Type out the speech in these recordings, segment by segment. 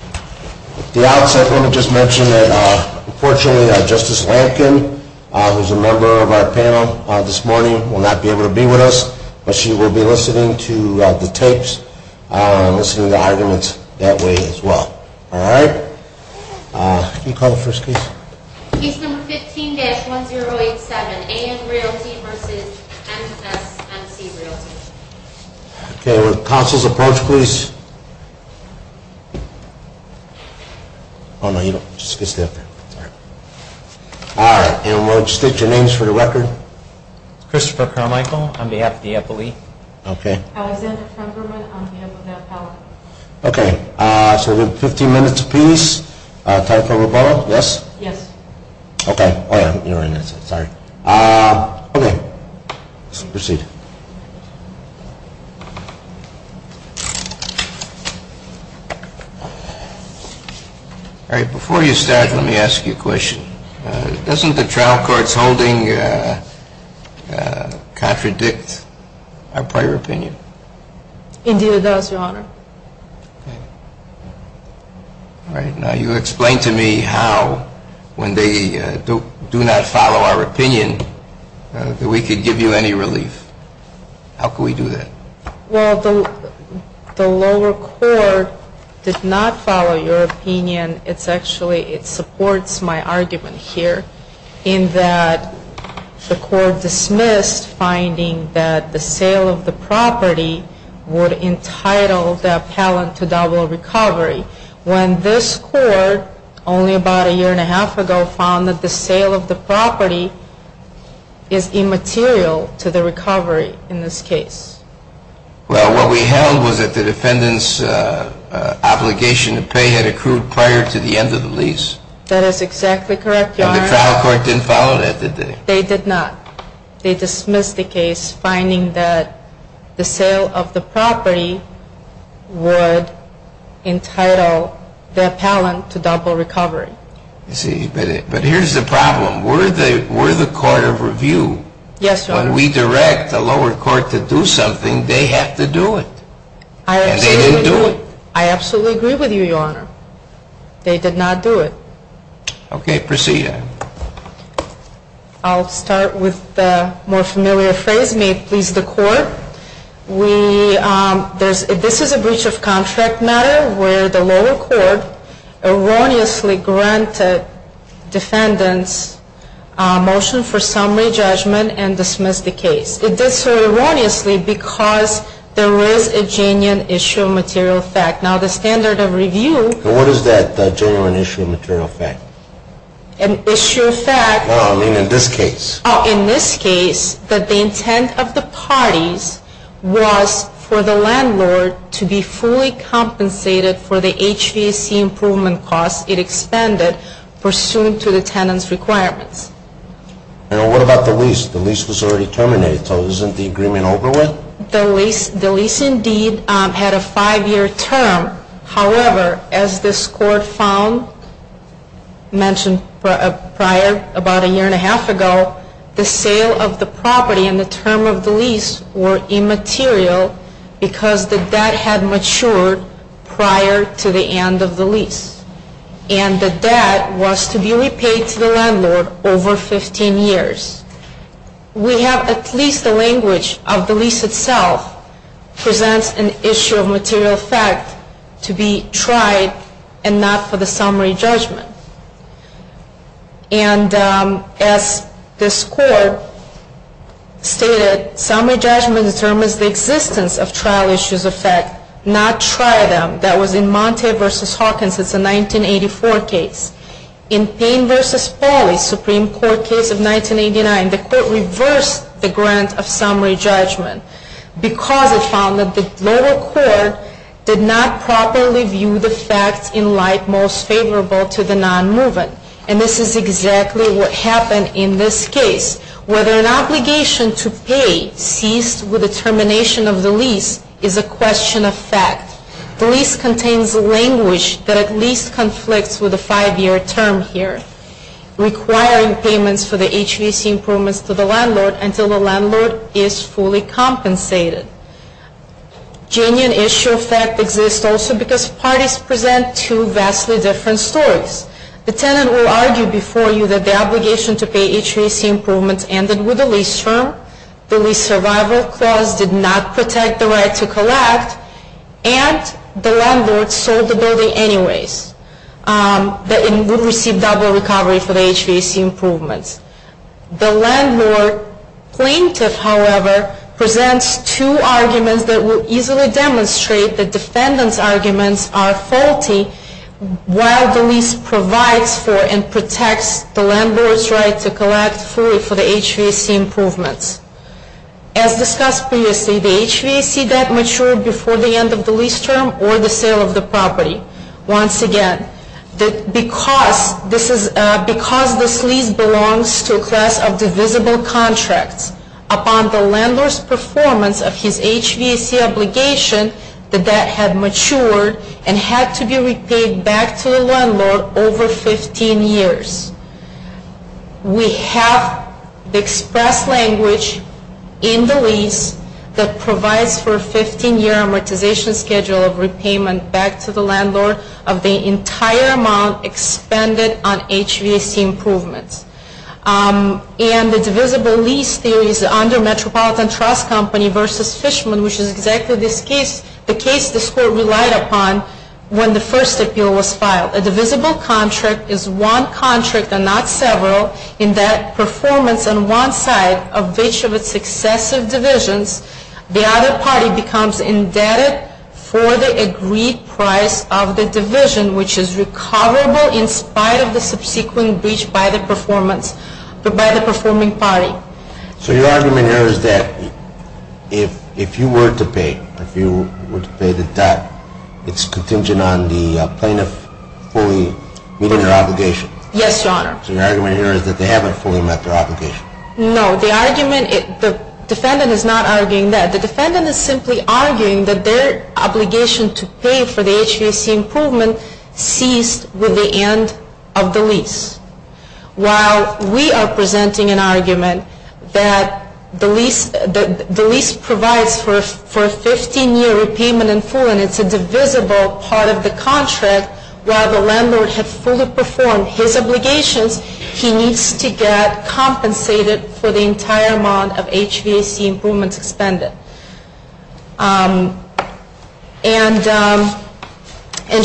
At the outset, I want to just mention that, unfortunately, Justice Lampkin, who is a member of our panel this morning, will not be able to be with us, but she will be listening to the tapes and listening to the arguments that way as well. All right? Can you call the first case? Case number 15-1087. A.M. Realty v. MSMC Realty. Okay, would counsels approach, please? Oh, no, you don't. Just stay up there. All right, and would you state your names for the record? Christopher Carmichael, on behalf of the FLE. Okay. Alexandra Tremberman, on behalf of the FLE. Okay, so we have 15 minutes apiece. Tyler Caraballo, yes? Yes. Okay. Oh, yeah, you're in. Sorry. Okay. Proceed. All right, before you start, let me ask you a question. Doesn't the trial court's holding contradict our prior opinion? Indeed it does, Your Honor. Okay. All right, now you explain to me how, when they do not follow our opinion, that we could give you any relief. How could we do that? Well, the lower court did not follow your opinion. It's actually, it supports my argument here in that the court dismissed finding that the sale of the property would entitle the appellant to double recovery. When this court, only about a year and a half ago, found that the sale of the property is immaterial to the recovery in this case. Well, what we held was that the defendant's obligation to pay had accrued prior to the end of the lease. That is exactly correct, Your Honor. And the trial court didn't follow that, did they? They did not. They dismissed the case finding that the sale of the property would entitle the appellant to double recovery. But here's the problem. We're the court of review. Yes, Your Honor. When we direct the lower court to do something, they have to do it. And they didn't do it. I absolutely agree with you, Your Honor. They did not do it. Okay, proceed. I'll start with the more familiar phrase, may it please the court. This is a breach of contract matter where the lower court erroneously granted defendants motion for summary judgment and dismissed the case. It did so erroneously because there is a genuine issue of material fact. Now, the standard of review And what is that genuine issue of material fact? An issue of fact No, I mean in this case. Oh, in this case, that the intent of the parties was for the landlord to be fully compensated for the HVAC improvement costs it expended pursuant to the tenant's requirements. And what about the lease? The lease was already terminated, so isn't the agreement over with? The lease indeed had a five-year term. However, as this court found, mentioned prior about a year and a half ago, the sale of the property and the term of the lease were immaterial because the debt had matured prior to the end of the lease. And the debt was to be repaid to the landlord over 15 years. We have at least the language of the lease itself presents an issue of material fact to be tried and not for the summary judgment. And as this court stated, summary judgment determines the existence of trial issues of fact, not try them. That was in Monte v. Hawkins. It's a 1984 case. In Payne v. Pauly, Supreme Court case of 1989, the court reversed the grant of summary judgment because it found that the lower court did not properly view the facts in light most favorable to the non-moving. And this is exactly what happened in this case. Whether an obligation to pay ceased with the termination of the lease is a question of fact. The lease contains language that at least conflicts with the five-year term here, requiring payments for the HVAC improvements to the landlord until the landlord is fully compensated. Genuine issue of fact exists also because parties present two vastly different stories. The tenant will argue before you that the obligation to pay HVAC improvements ended with the lease term. The lease survival clause did not protect the right to collect. And the landlord sold the building anyways. That it would receive double recovery for the HVAC improvements. The landlord plaintiff, however, presents two arguments that will easily demonstrate the defendant's arguments are faulty while the lease provides for and protects the landlord's right to collect fully for the HVAC improvements. As discussed previously, the HVAC debt matured before the end of the lease term or the sale of the property. Once again, because this lease belongs to a class of divisible contracts, upon the landlord's performance of his HVAC obligation, the debt had matured and had to be repaid back to the landlord over 15 years. We have the express language in the lease that provides for a 15-year amortization schedule of repayment back to the landlord of the entire amount expended on HVAC improvements. And the divisible lease theory is under Metropolitan Trust Company v. Fishman, which is exactly the case this Court relied upon when the first appeal was filed. A divisible contract is one contract and not several in that performance on one side of each of its successive divisions, the other party becomes indebted for the agreed price of the division, which is recoverable in spite of the subsequent breach by the performing party. So your argument here is that if you were to pay the debt, it's contingent on the plaintiff fully meeting their obligation? Yes, Your Honor. So your argument here is that they haven't fully met their obligation? No, the argument, the defendant is not arguing that. The defendant is simply arguing that their obligation to pay for the HVAC improvement ceased with the end of the lease. While we are presenting an argument that the lease provides for a 15-year repayment in full and it's a divisible part of the contract, while the landlord has fully performed his obligations, he needs to get compensated for the entire amount of HVAC improvements expended. And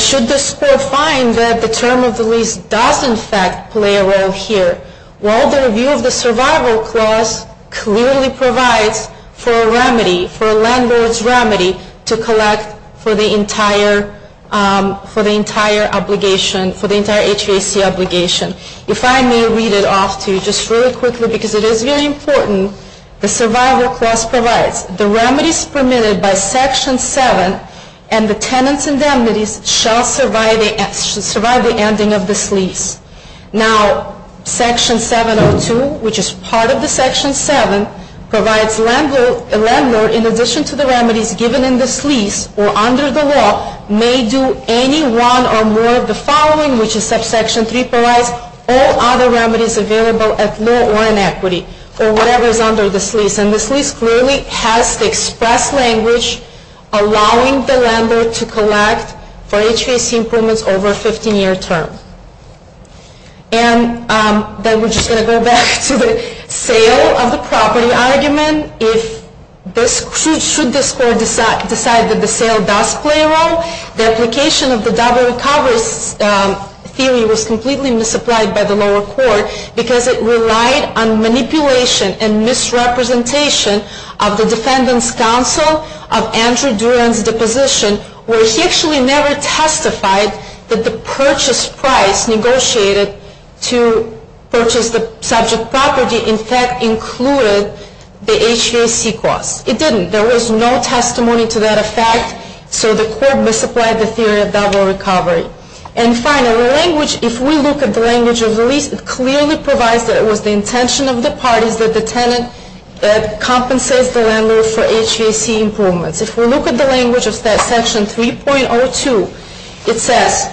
should this Court find that the term of the lease does in fact play a role here? Well, the review of the survival clause clearly provides for a remedy, for a landlord's remedy to collect for the entire obligation, for the entire HVAC obligation. If I may read it off to you just really quickly, because it is very important, the survival clause provides the remedies permitted by Section 7 and the tenant's indemnities shall survive the ending of this lease. Now, Section 702, which is part of the Section 7, provides landlord, in addition to the remedies given in this lease or under the law, may do any one or more of the following, which is that Section 3 provides all other remedies available at law or in equity or whatever is under this lease. And this lease clearly has the express language allowing the landlord to collect for HVAC improvements over a 15-year term. And then we're just going to go back to the sale of the property argument. Again, should this Court decide that the sale does play a role, the application of the double recovery theory was completely misapplied by the lower court because it relied on manipulation and misrepresentation of the Defendant's Counsel of Andrew Duran's deposition, where he actually never testified that the purchase price negotiated to purchase the subject property in fact included the HVAC obligation. It didn't. There was no testimony to that effect, so the Court misapplied the theory of double recovery. And finally, if we look at the language of the lease, it clearly provides that it was the intention of the parties that the tenant that compensates the landlord for HVAC improvements. If we look at the language of Section 3.02, it says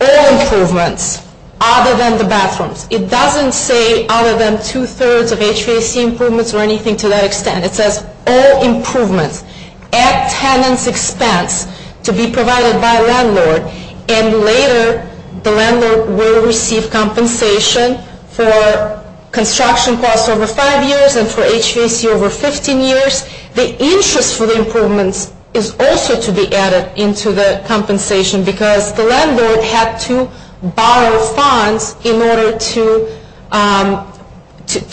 all improvements other than the bathrooms. It doesn't say other than two-thirds of HVAC improvements or anything to that extent. It says all improvements at tenant's expense to be provided by a landlord, and later the landlord will receive compensation for construction costs over five years and for HVAC over 15 years. The interest for the improvements is also to be added into the compensation because the landlord had to borrow funds in order to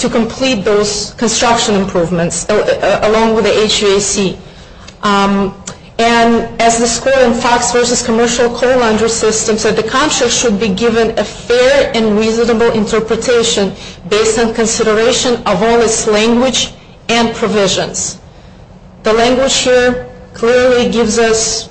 complete those construction improvements along with the HVAC. And as the score in Fox v. Commercial Coal Laundry System said, the contract should be given a fair and reasonable interpretation based on consideration of all its language and provisions. The language here clearly gives us,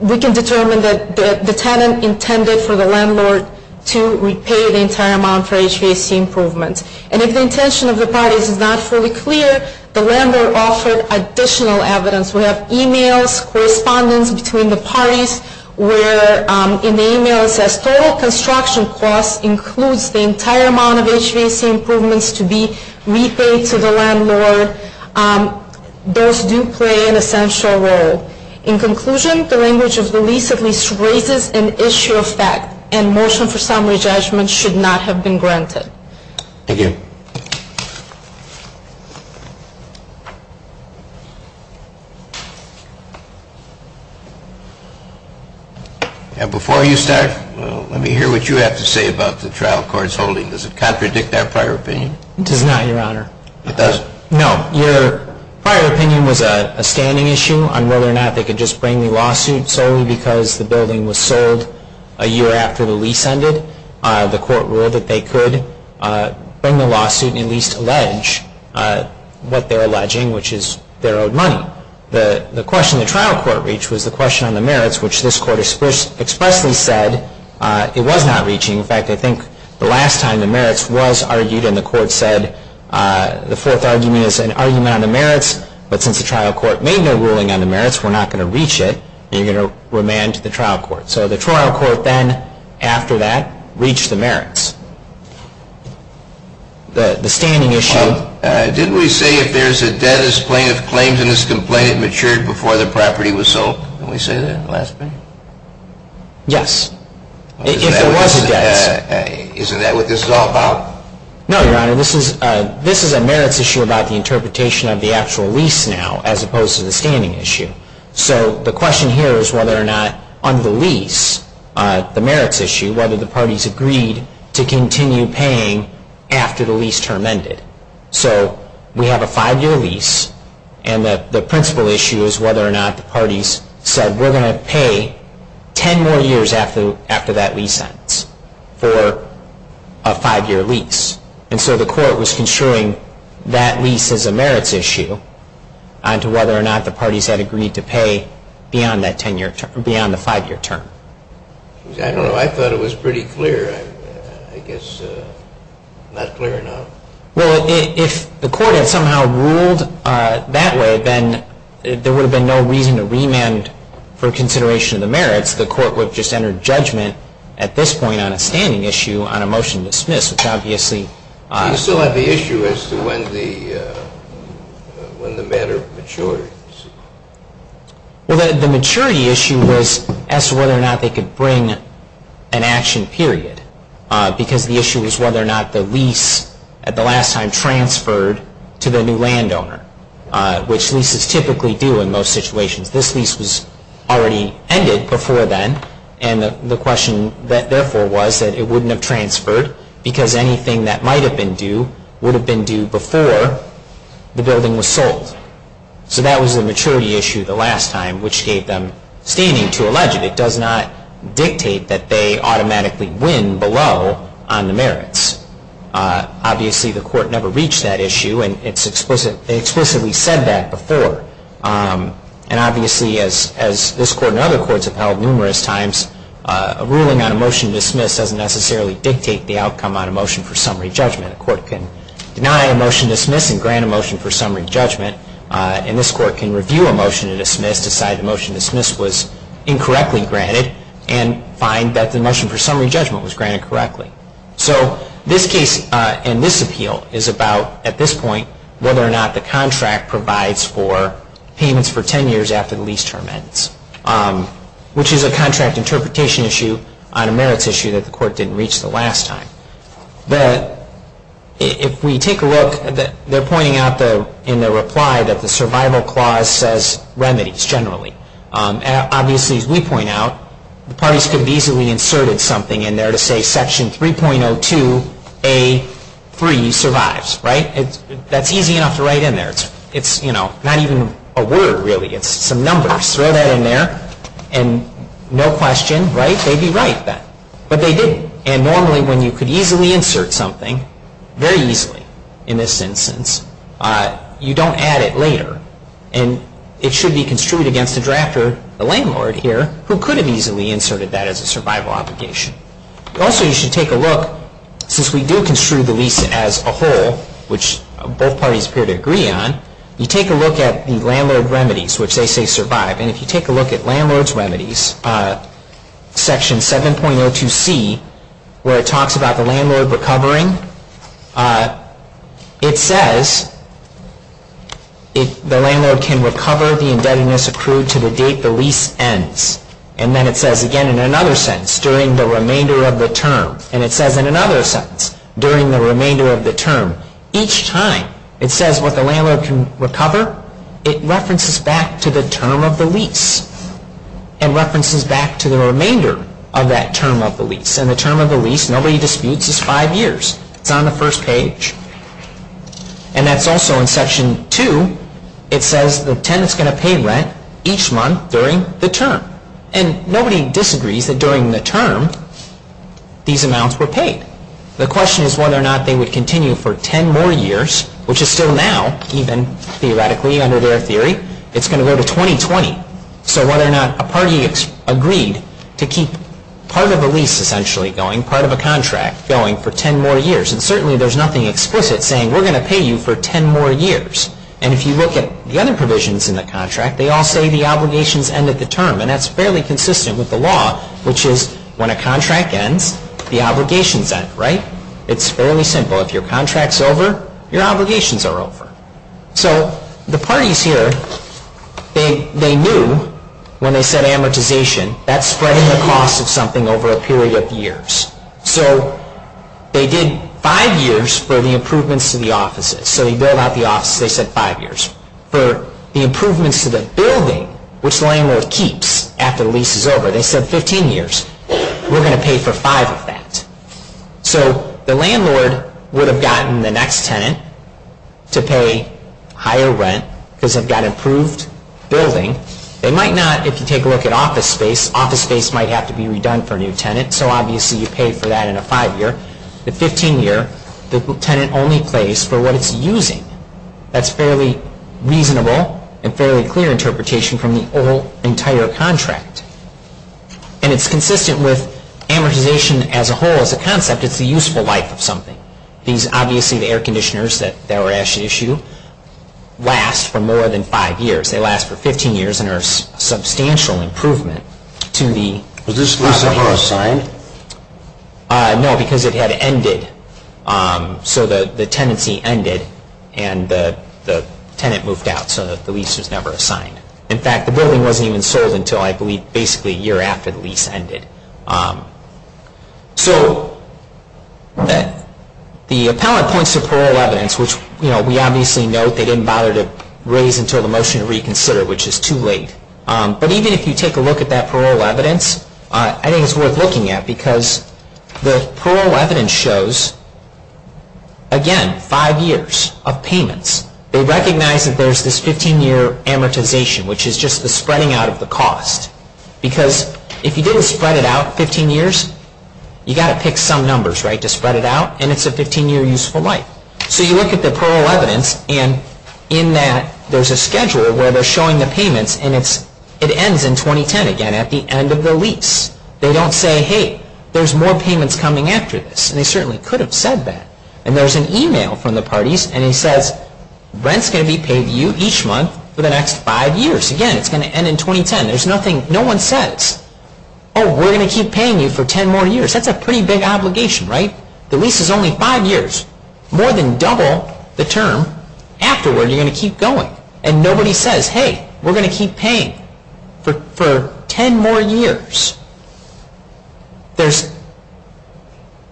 we can determine that the tenant intended for the landlord to repay the entire amount for HVAC improvements. And if the intention of the parties is not fully clear, the landlord offered additional evidence. We have emails, correspondence between the parties where in the email it says total construction costs includes the entire amount of HVAC improvements to be repaid to the landlord. Those do play an essential role. In conclusion, the language of the lease at least raises an issue of fact and motion for summary judgment should not have been granted. Thank you. Before you start, let me hear what you have to say about the trial court's holding. Does it contradict our prior opinion? It does not, Your Honor. It doesn't? No. Your prior opinion was a standing issue on whether or not they could just bring the lawsuit solely because the building was sold a year after the lease ended. The court ruled that they could bring the lawsuit and at least allege what they're alleging, which is their own money. The question the trial court reached was the question on the merits, which this court expressly said it was not reaching. In fact, I think the last time the merits was argued and the court said the fourth argument is an argument on the merits, but since the trial court made no ruling on the merits, we're not going to reach it. You're going to remand to the trial court. So the trial court then, after that, reached the merits. The standing issue. Didn't we say if there's a debtor's plaintiff claims in this complaint it matured before the property was sold? Didn't we say that last time? Yes. If there was a debt. Isn't that what this is all about? No, Your Honor. This is a merits issue about the interpretation of the actual lease now as opposed to the standing issue. So the question here is whether or not on the lease, the merits issue, whether the parties agreed to continue paying after the lease term ended. So we have a five-year lease, and the principal issue is whether or not the parties said we're going to pay ten more years after that lease ends for a five-year lease. And so the court was construing that lease as a merits issue onto whether or not the parties had agreed to pay beyond the five-year term. I don't know. I thought it was pretty clear. I guess not clear enough. Well, if the court had somehow ruled that way, then there would have been no reason to remand for consideration of the merits. The court would have just entered judgment at this point on a standing issue on a motion to dismiss, which obviously. You still have the issue as to when the matter matured. Well, the maturity issue was as to whether or not they could bring an action period, because the issue was whether or not the lease at the last time transferred to the new landowner, which leases typically do in most situations. This lease was already ended before then, and the question therefore was that it wouldn't have transferred because anything that might have been due would have been due before the building was sold. So that was the maturity issue the last time, which gave them standing to allege it. It does not dictate that they automatically win below on the merits. Obviously, the court never reached that issue, and they explicitly said that before. And obviously, as this court and other courts have held numerous times, a ruling on a motion to dismiss doesn't necessarily dictate the outcome on a motion for summary judgment. A court can deny a motion to dismiss and grant a motion for summary judgment, and this court can review a motion to dismiss, decide the motion to dismiss was incorrectly granted, and find that the motion for summary judgment was granted correctly. So this case and this appeal is about, at this point, whether or not the contract provides for payments for 10 years after the lease term ends, which is a contract interpretation issue on a merits issue that the court didn't reach the last time. If we take a look, they're pointing out in their reply that the survival clause says remedies, generally. Obviously, as we point out, the parties could have easily inserted something in there to say Section 3.02A.3 survives. That's easy enough to write in there. It's not even a word, really. It's some numbers. Throw that in there, and no question, they'd be right then. But they didn't. And normally, when you could easily insert something, very easily in this instance, you don't add it later. And it should be construed against the drafter, the landlord here, who could have easily inserted that as a survival obligation. Also, you should take a look, since we do construe the lease as a whole, which both parties appear to agree on, you take a look at the landlord remedies, which they say survive. And if you take a look at landlord's remedies, Section 7.02C, where it talks about the landlord recovering, it says the landlord can recover the indebtedness accrued to the date the lease ends. And then it says again in another sentence, during the remainder of the term. And it says in another sentence, during the remainder of the term. Each time it says what the landlord can recover, it references back to the term of the lease, and references back to the remainder of that term of the lease. And the term of the lease, nobody disputes, is five years. It's on the first page. And that's also in Section 2. It says the tenant's going to pay rent each month during the term. And nobody disagrees that during the term, these amounts were paid. The question is whether or not they would continue for ten more years, which is still now, even theoretically under their theory, it's going to go to 2020. So whether or not a party agreed to keep part of a lease essentially going, part of a contract going, for ten more years. And certainly there's nothing explicit saying we're going to pay you for ten more years. And if you look at the other provisions in the contract, they all say the obligations end at the term. And that's fairly consistent with the law, which is when a contract ends, the obligations end, right? It's fairly simple. If your contract's over, your obligations are over. So the parties here, they knew when they said amortization, that's spreading the cost of something over a period of years. So they did five years for the improvements to the offices. So they built out the offices. They said five years. for the improvements to the building, which the landlord keeps after the lease is over. They said 15 years. We're going to pay for five of that. So the landlord would have gotten the next tenant to pay higher rent, because they've got an improved building. They might not, if you take a look at office space, office space might have to be redone for a new tenant. So obviously you pay for that in a five-year. The 15-year, the tenant only pays for what it's using. That's fairly reasonable and fairly clear interpretation from the whole entire contract. And it's consistent with amortization as a whole. As a concept, it's the useful life of something. These, obviously, the air conditioners that were actually issued, last for more than five years. They last for 15 years and are a substantial improvement to the property. Was this lease ever assigned? No, because it had ended. So the tenancy ended and the tenant moved out, so the lease was never assigned. In fact, the building wasn't even sold until, I believe, basically a year after the lease ended. So the appellant points to parole evidence, which we obviously know they didn't bother to raise until the motion to reconsider, which is too late. But even if you take a look at that parole evidence, I think it's worth looking at because the parole evidence shows, again, five years of payments. They recognize that there's this 15-year amortization, which is just the spreading out of the cost. Because if you didn't spread it out 15 years, you've got to pick some numbers to spread it out, and it's a 15-year useful life. So you look at the parole evidence, and in that, there's a schedule where they're showing the payments, and it ends in 2010, again, at the end of the lease. They don't say, hey, there's more payments coming after this. And they certainly could have said that. And there's an email from the parties, and it says, rent's going to be paid to you each month for the next five years. Again, it's going to end in 2010. No one says, oh, we're going to keep paying you for ten more years. That's a pretty big obligation, right? The lease is only five years. More than double the term afterward, you're going to keep going. And nobody says, hey, we're going to keep paying for ten more years. There's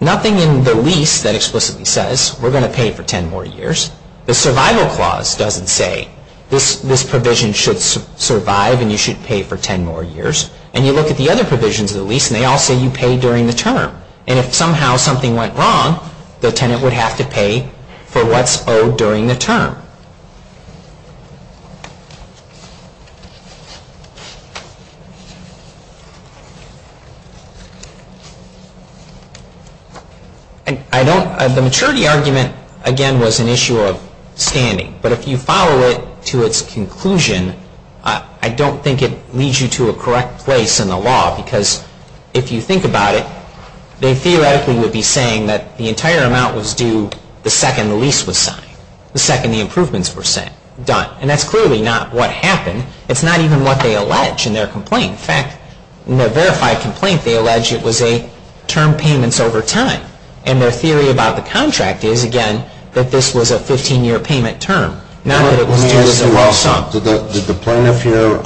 nothing in the lease that explicitly says, we're going to pay for ten more years. The survival clause doesn't say, this provision should survive and you should pay for ten more years. And you look at the other provisions of the lease, and they all say you pay during the term. And if somehow something went wrong, the tenant would have to pay for what's owed during the term. The maturity argument, again, was an issue of standing. But if you follow it to its conclusion, I don't think it leads you to a correct place in the law. Because if you think about it, they theoretically would be saying that the entire amount was due the second the lease was signed, the second the improvements were done. And that's clearly not what happened. It's not even what they allege in their complaint. In fact, in their verified complaint, they allege it was a term payments over time. And their theory about the contract is, again, that this was a 15-year payment term, not that it was due as a whole sum. Did the plaintiff here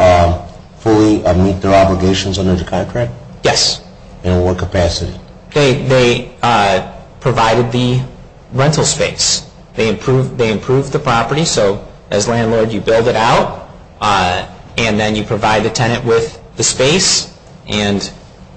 fully meet their obligations under the contract? Yes. In what capacity? They provided the rental space. They improved the property. So as landlord, you build it out, and then you provide the tenant with the space and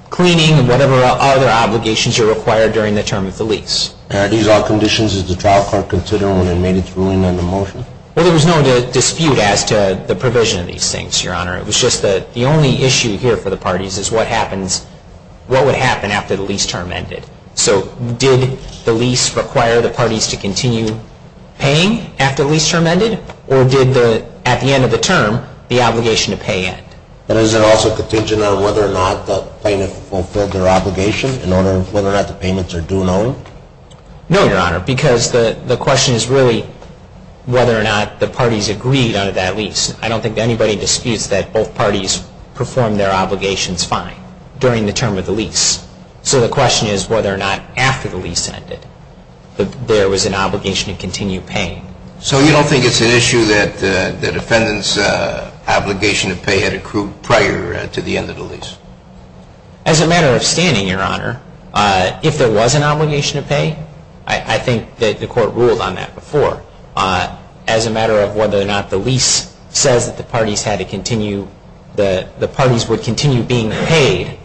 cleaning and whatever other obligations are required during the term of the lease. Are these all conditions that the trial court considered when it made its ruling on the motion? Well, there was no dispute as to the provision of these things, Your Honor. It was just that the only issue here for the parties is what would happen after the lease term ended. So did the lease require the parties to continue paying after the lease term ended, or did, at the end of the term, the obligation to pay end? But is it also contingent on whether or not the plaintiff fulfilled their obligation in order of whether or not the payments are due and all? No, Your Honor, because the question is really whether or not the parties agreed on that lease. I don't think anybody disputes that both parties performed their obligations fine during the term of the lease. So the question is whether or not after the lease ended that there was an obligation to continue paying. So you don't think it's an issue that the defendant's obligation to pay had accrued prior to the end of the lease? As a matter of standing, Your Honor, if there was an obligation to pay, I think that the court ruled on that before. As a matter of whether or not the lease says that the parties had to continue, the parties would continue being paid,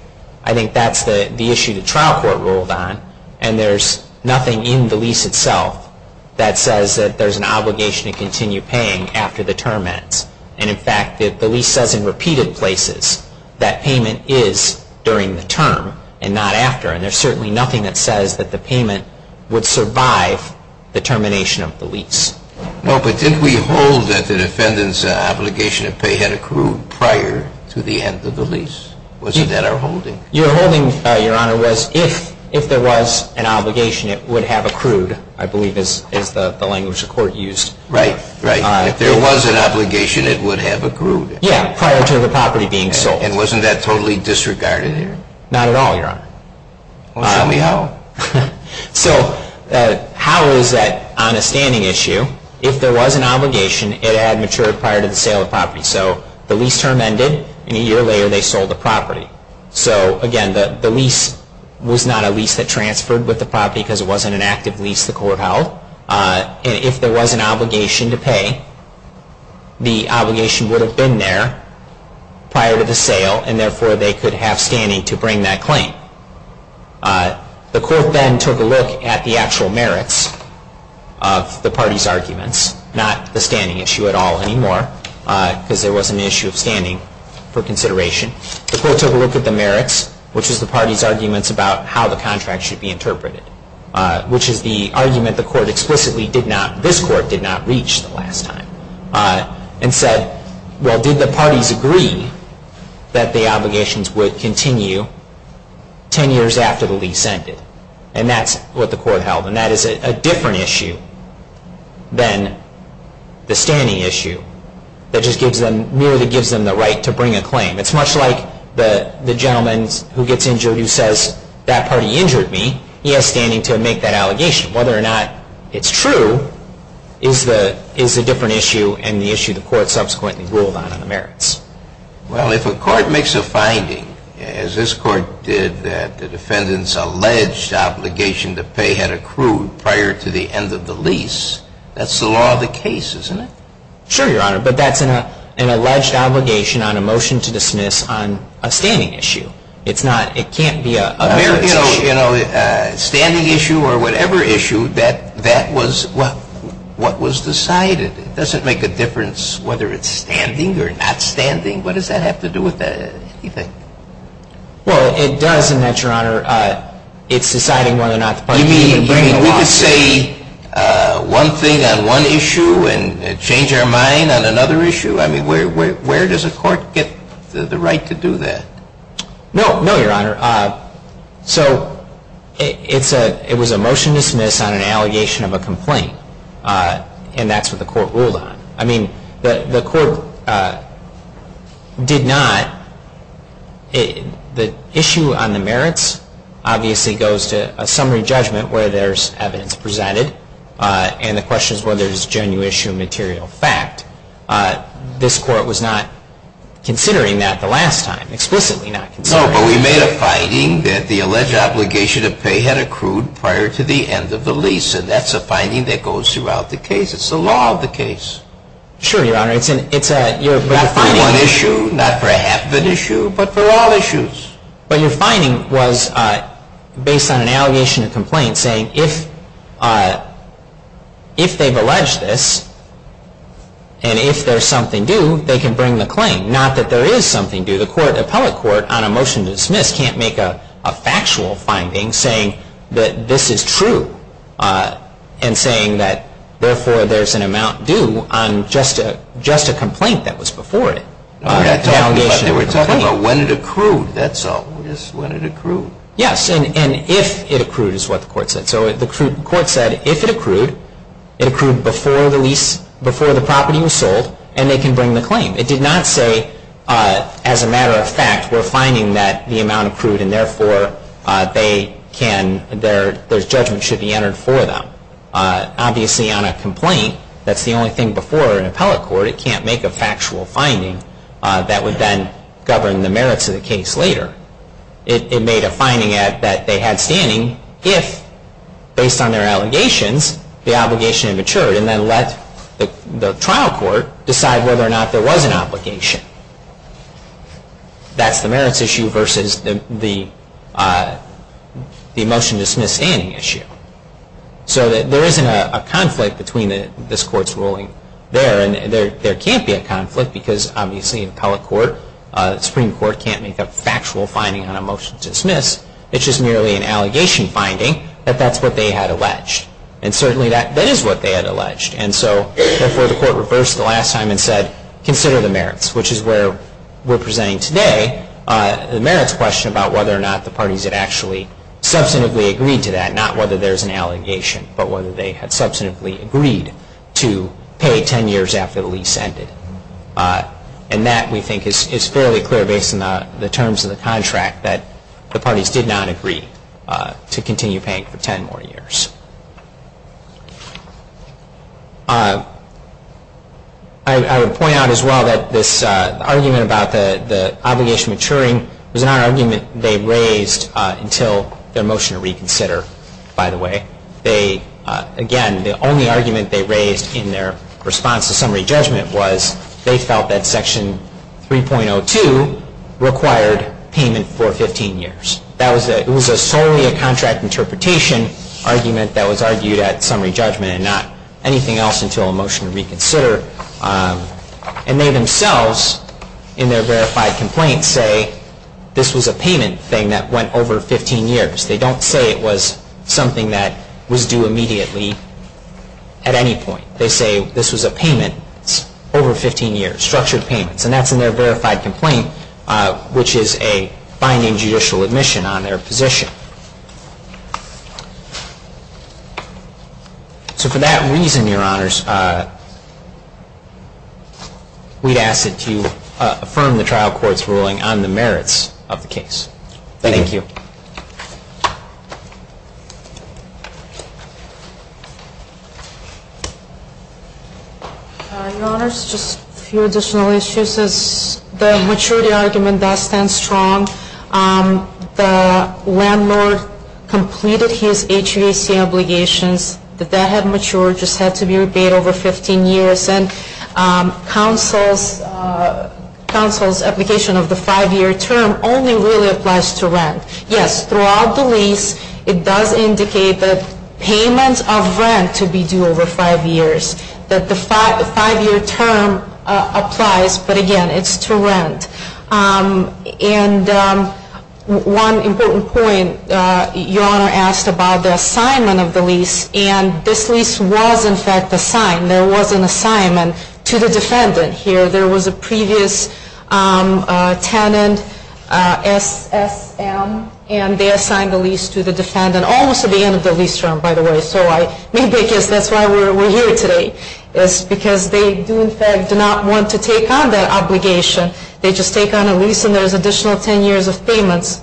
I think that's the issue the trial court ruled on. And there's nothing in the lease itself that says that there's an obligation to continue paying after the term ends. And, in fact, the lease says in repeated places that payment is during the term and not after. And there's certainly nothing that says that the payment would survive the termination of the lease. No, but didn't we hold that the defendant's obligation to pay had accrued prior to the end of the lease? Wasn't that our holding? Your holding, Your Honor, was if there was an obligation, it would have accrued, I believe is the language the court used. Right, right. If there was an obligation, it would have accrued. Yeah, prior to the property being sold. And wasn't that totally disregarded there? Not at all, Your Honor. Well, show me how. So how is that on a standing issue? If there was an obligation, it had matured prior to the sale of property. So the lease term ended, and a year later they sold the property. So, again, the lease was not a lease that transferred with the property because it wasn't an active lease the court held. And if there was an obligation to pay, the obligation would have been there prior to the sale, and therefore they could have standing to bring that claim. The court then took a look at the actual merits of the parties' arguments, not the standing issue at all anymore because there wasn't an issue of standing for consideration. The court took a look at the merits, which is the parties' arguments about how the contract should be interpreted, which is the argument the court explicitly did not, this court did not reach the last time, and said, well, did the parties agree that the obligations would continue ten years after the lease ended? And that's what the court held, and that is a different issue than the standing issue that just merely gives them the right to bring a claim. It's much like the gentleman who gets injured who says, that party injured me, he has standing to make that allegation. Whether or not it's true is a different issue and the issue the court subsequently ruled on in the merits. Well, if a court makes a finding, as this court did that the defendant's alleged obligation to pay had accrued prior to the end of the lease, that's the law of the case, isn't it? Sure, Your Honor, but that's an alleged obligation on a motion to dismiss on a standing issue. It can't be a merits issue. Well, you know, standing issue or whatever issue, that was what was decided. It doesn't make a difference whether it's standing or not standing. What does that have to do with anything? Well, it does in that, Your Honor, it's deciding whether or not the parties are going to bring the lawsuit. You mean we can say one thing on one issue and change our mind on another issue? I mean, where does a court get the right to do that? No, no, Your Honor. So it was a motion to dismiss on an allegation of a complaint, and that's what the court ruled on. I mean, the court did not, the issue on the merits obviously goes to a summary judgment where there's evidence presented, and the question is whether it's a genuine issue of material fact. explicitly not considering it. No, but we made a finding that the alleged obligation to pay had accrued prior to the end of the lease, and that's a finding that goes throughout the case. It's the law of the case. Sure, Your Honor. Not for one issue, not for half an issue, but for all issues. But your finding was based on an allegation of complaint saying if they've alleged this and if there's something due, they can bring the claim, not that there is something due. The court, the appellate court, on a motion to dismiss can't make a factual finding saying that this is true and saying that therefore there's an amount due on just a complaint that was before it. They were talking about when it accrued. That's all. When it accrued. Yes, and if it accrued is what the court said. So the court said if it accrued, it accrued before the lease, before the property was sold, and they can bring the claim. It did not say, as a matter of fact, we're finding that the amount accrued and therefore their judgment should be entered for them. Obviously on a complaint, that's the only thing before an appellate court. It can't make a factual finding that would then govern the merits of the case later. It made a finding that they had standing if, based on their allegations, the obligation had matured and then let the trial court decide whether or not there was an obligation. That's the merits issue versus the motion to dismiss standing issue. So there isn't a conflict between this court's ruling there, and there can't be a conflict because obviously an appellate court, Supreme Court, can't make a factual finding on a motion to dismiss. It's just merely an allegation finding that that's what they had alleged. And certainly that is what they had alleged. And so therefore the court reversed the last time and said consider the merits, which is where we're presenting today the merits question about whether or not the parties had actually substantively agreed to that, not whether there's an allegation, but whether they had substantively agreed to pay 10 years after the lease ended. And that, we think, is fairly clear based on the terms of the contract that the parties did not agree to continue paying for 10 more years. I would point out as well that this argument about the obligation maturing was not an argument they raised until their motion to reconsider, by the way. Again, the only argument they raised in their response to summary judgment was they felt that Section 3.02 required payment for 15 years. It was solely a contract interpretation argument that was argued at summary judgment and not anything else until a motion to reconsider. And they themselves, in their verified complaint, say this was a payment thing that went over 15 years. They don't say it was something that was due immediately at any point. They say this was a payment over 15 years, structured payments. And that's in their verified complaint, which is a binding judicial admission on their position. So for that reason, Your Honors, we'd ask that you affirm the trial court's ruling on the merits of the case. Thank you. Your Honors, just a few additional issues. The maturity argument does stand strong. The landlord completed his HVAC obligations. That that had matured, just had to be rebated over 15 years. And counsel's application of the five-year term only really applies to rent. Yes, throughout the lease, it does indicate the payment of rent to be due over five years, that the five-year term applies. But again, it's to rent. And one important point, Your Honor asked about the assignment of the lease. And this lease was, in fact, assigned. There was an assignment to the defendant here. There was a previous tenant, SSM, and they assigned the lease to the defendant almost at the end of the lease term, by the way. So maybe that's why we're here today, is because they do, in fact, do not want to take on that obligation. They just take on a lease and there's additional 10 years of payments.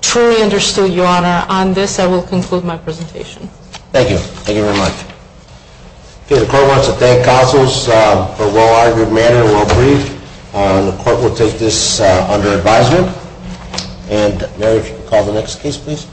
Truly understood, Your Honor. On this, I will conclude my presentation. Thank you. Thank you very much. Okay, the court wants to thank counsels for a well-argued matter and well-briefed. The court will take this under advisement. And Mary, if you could call the next case, please.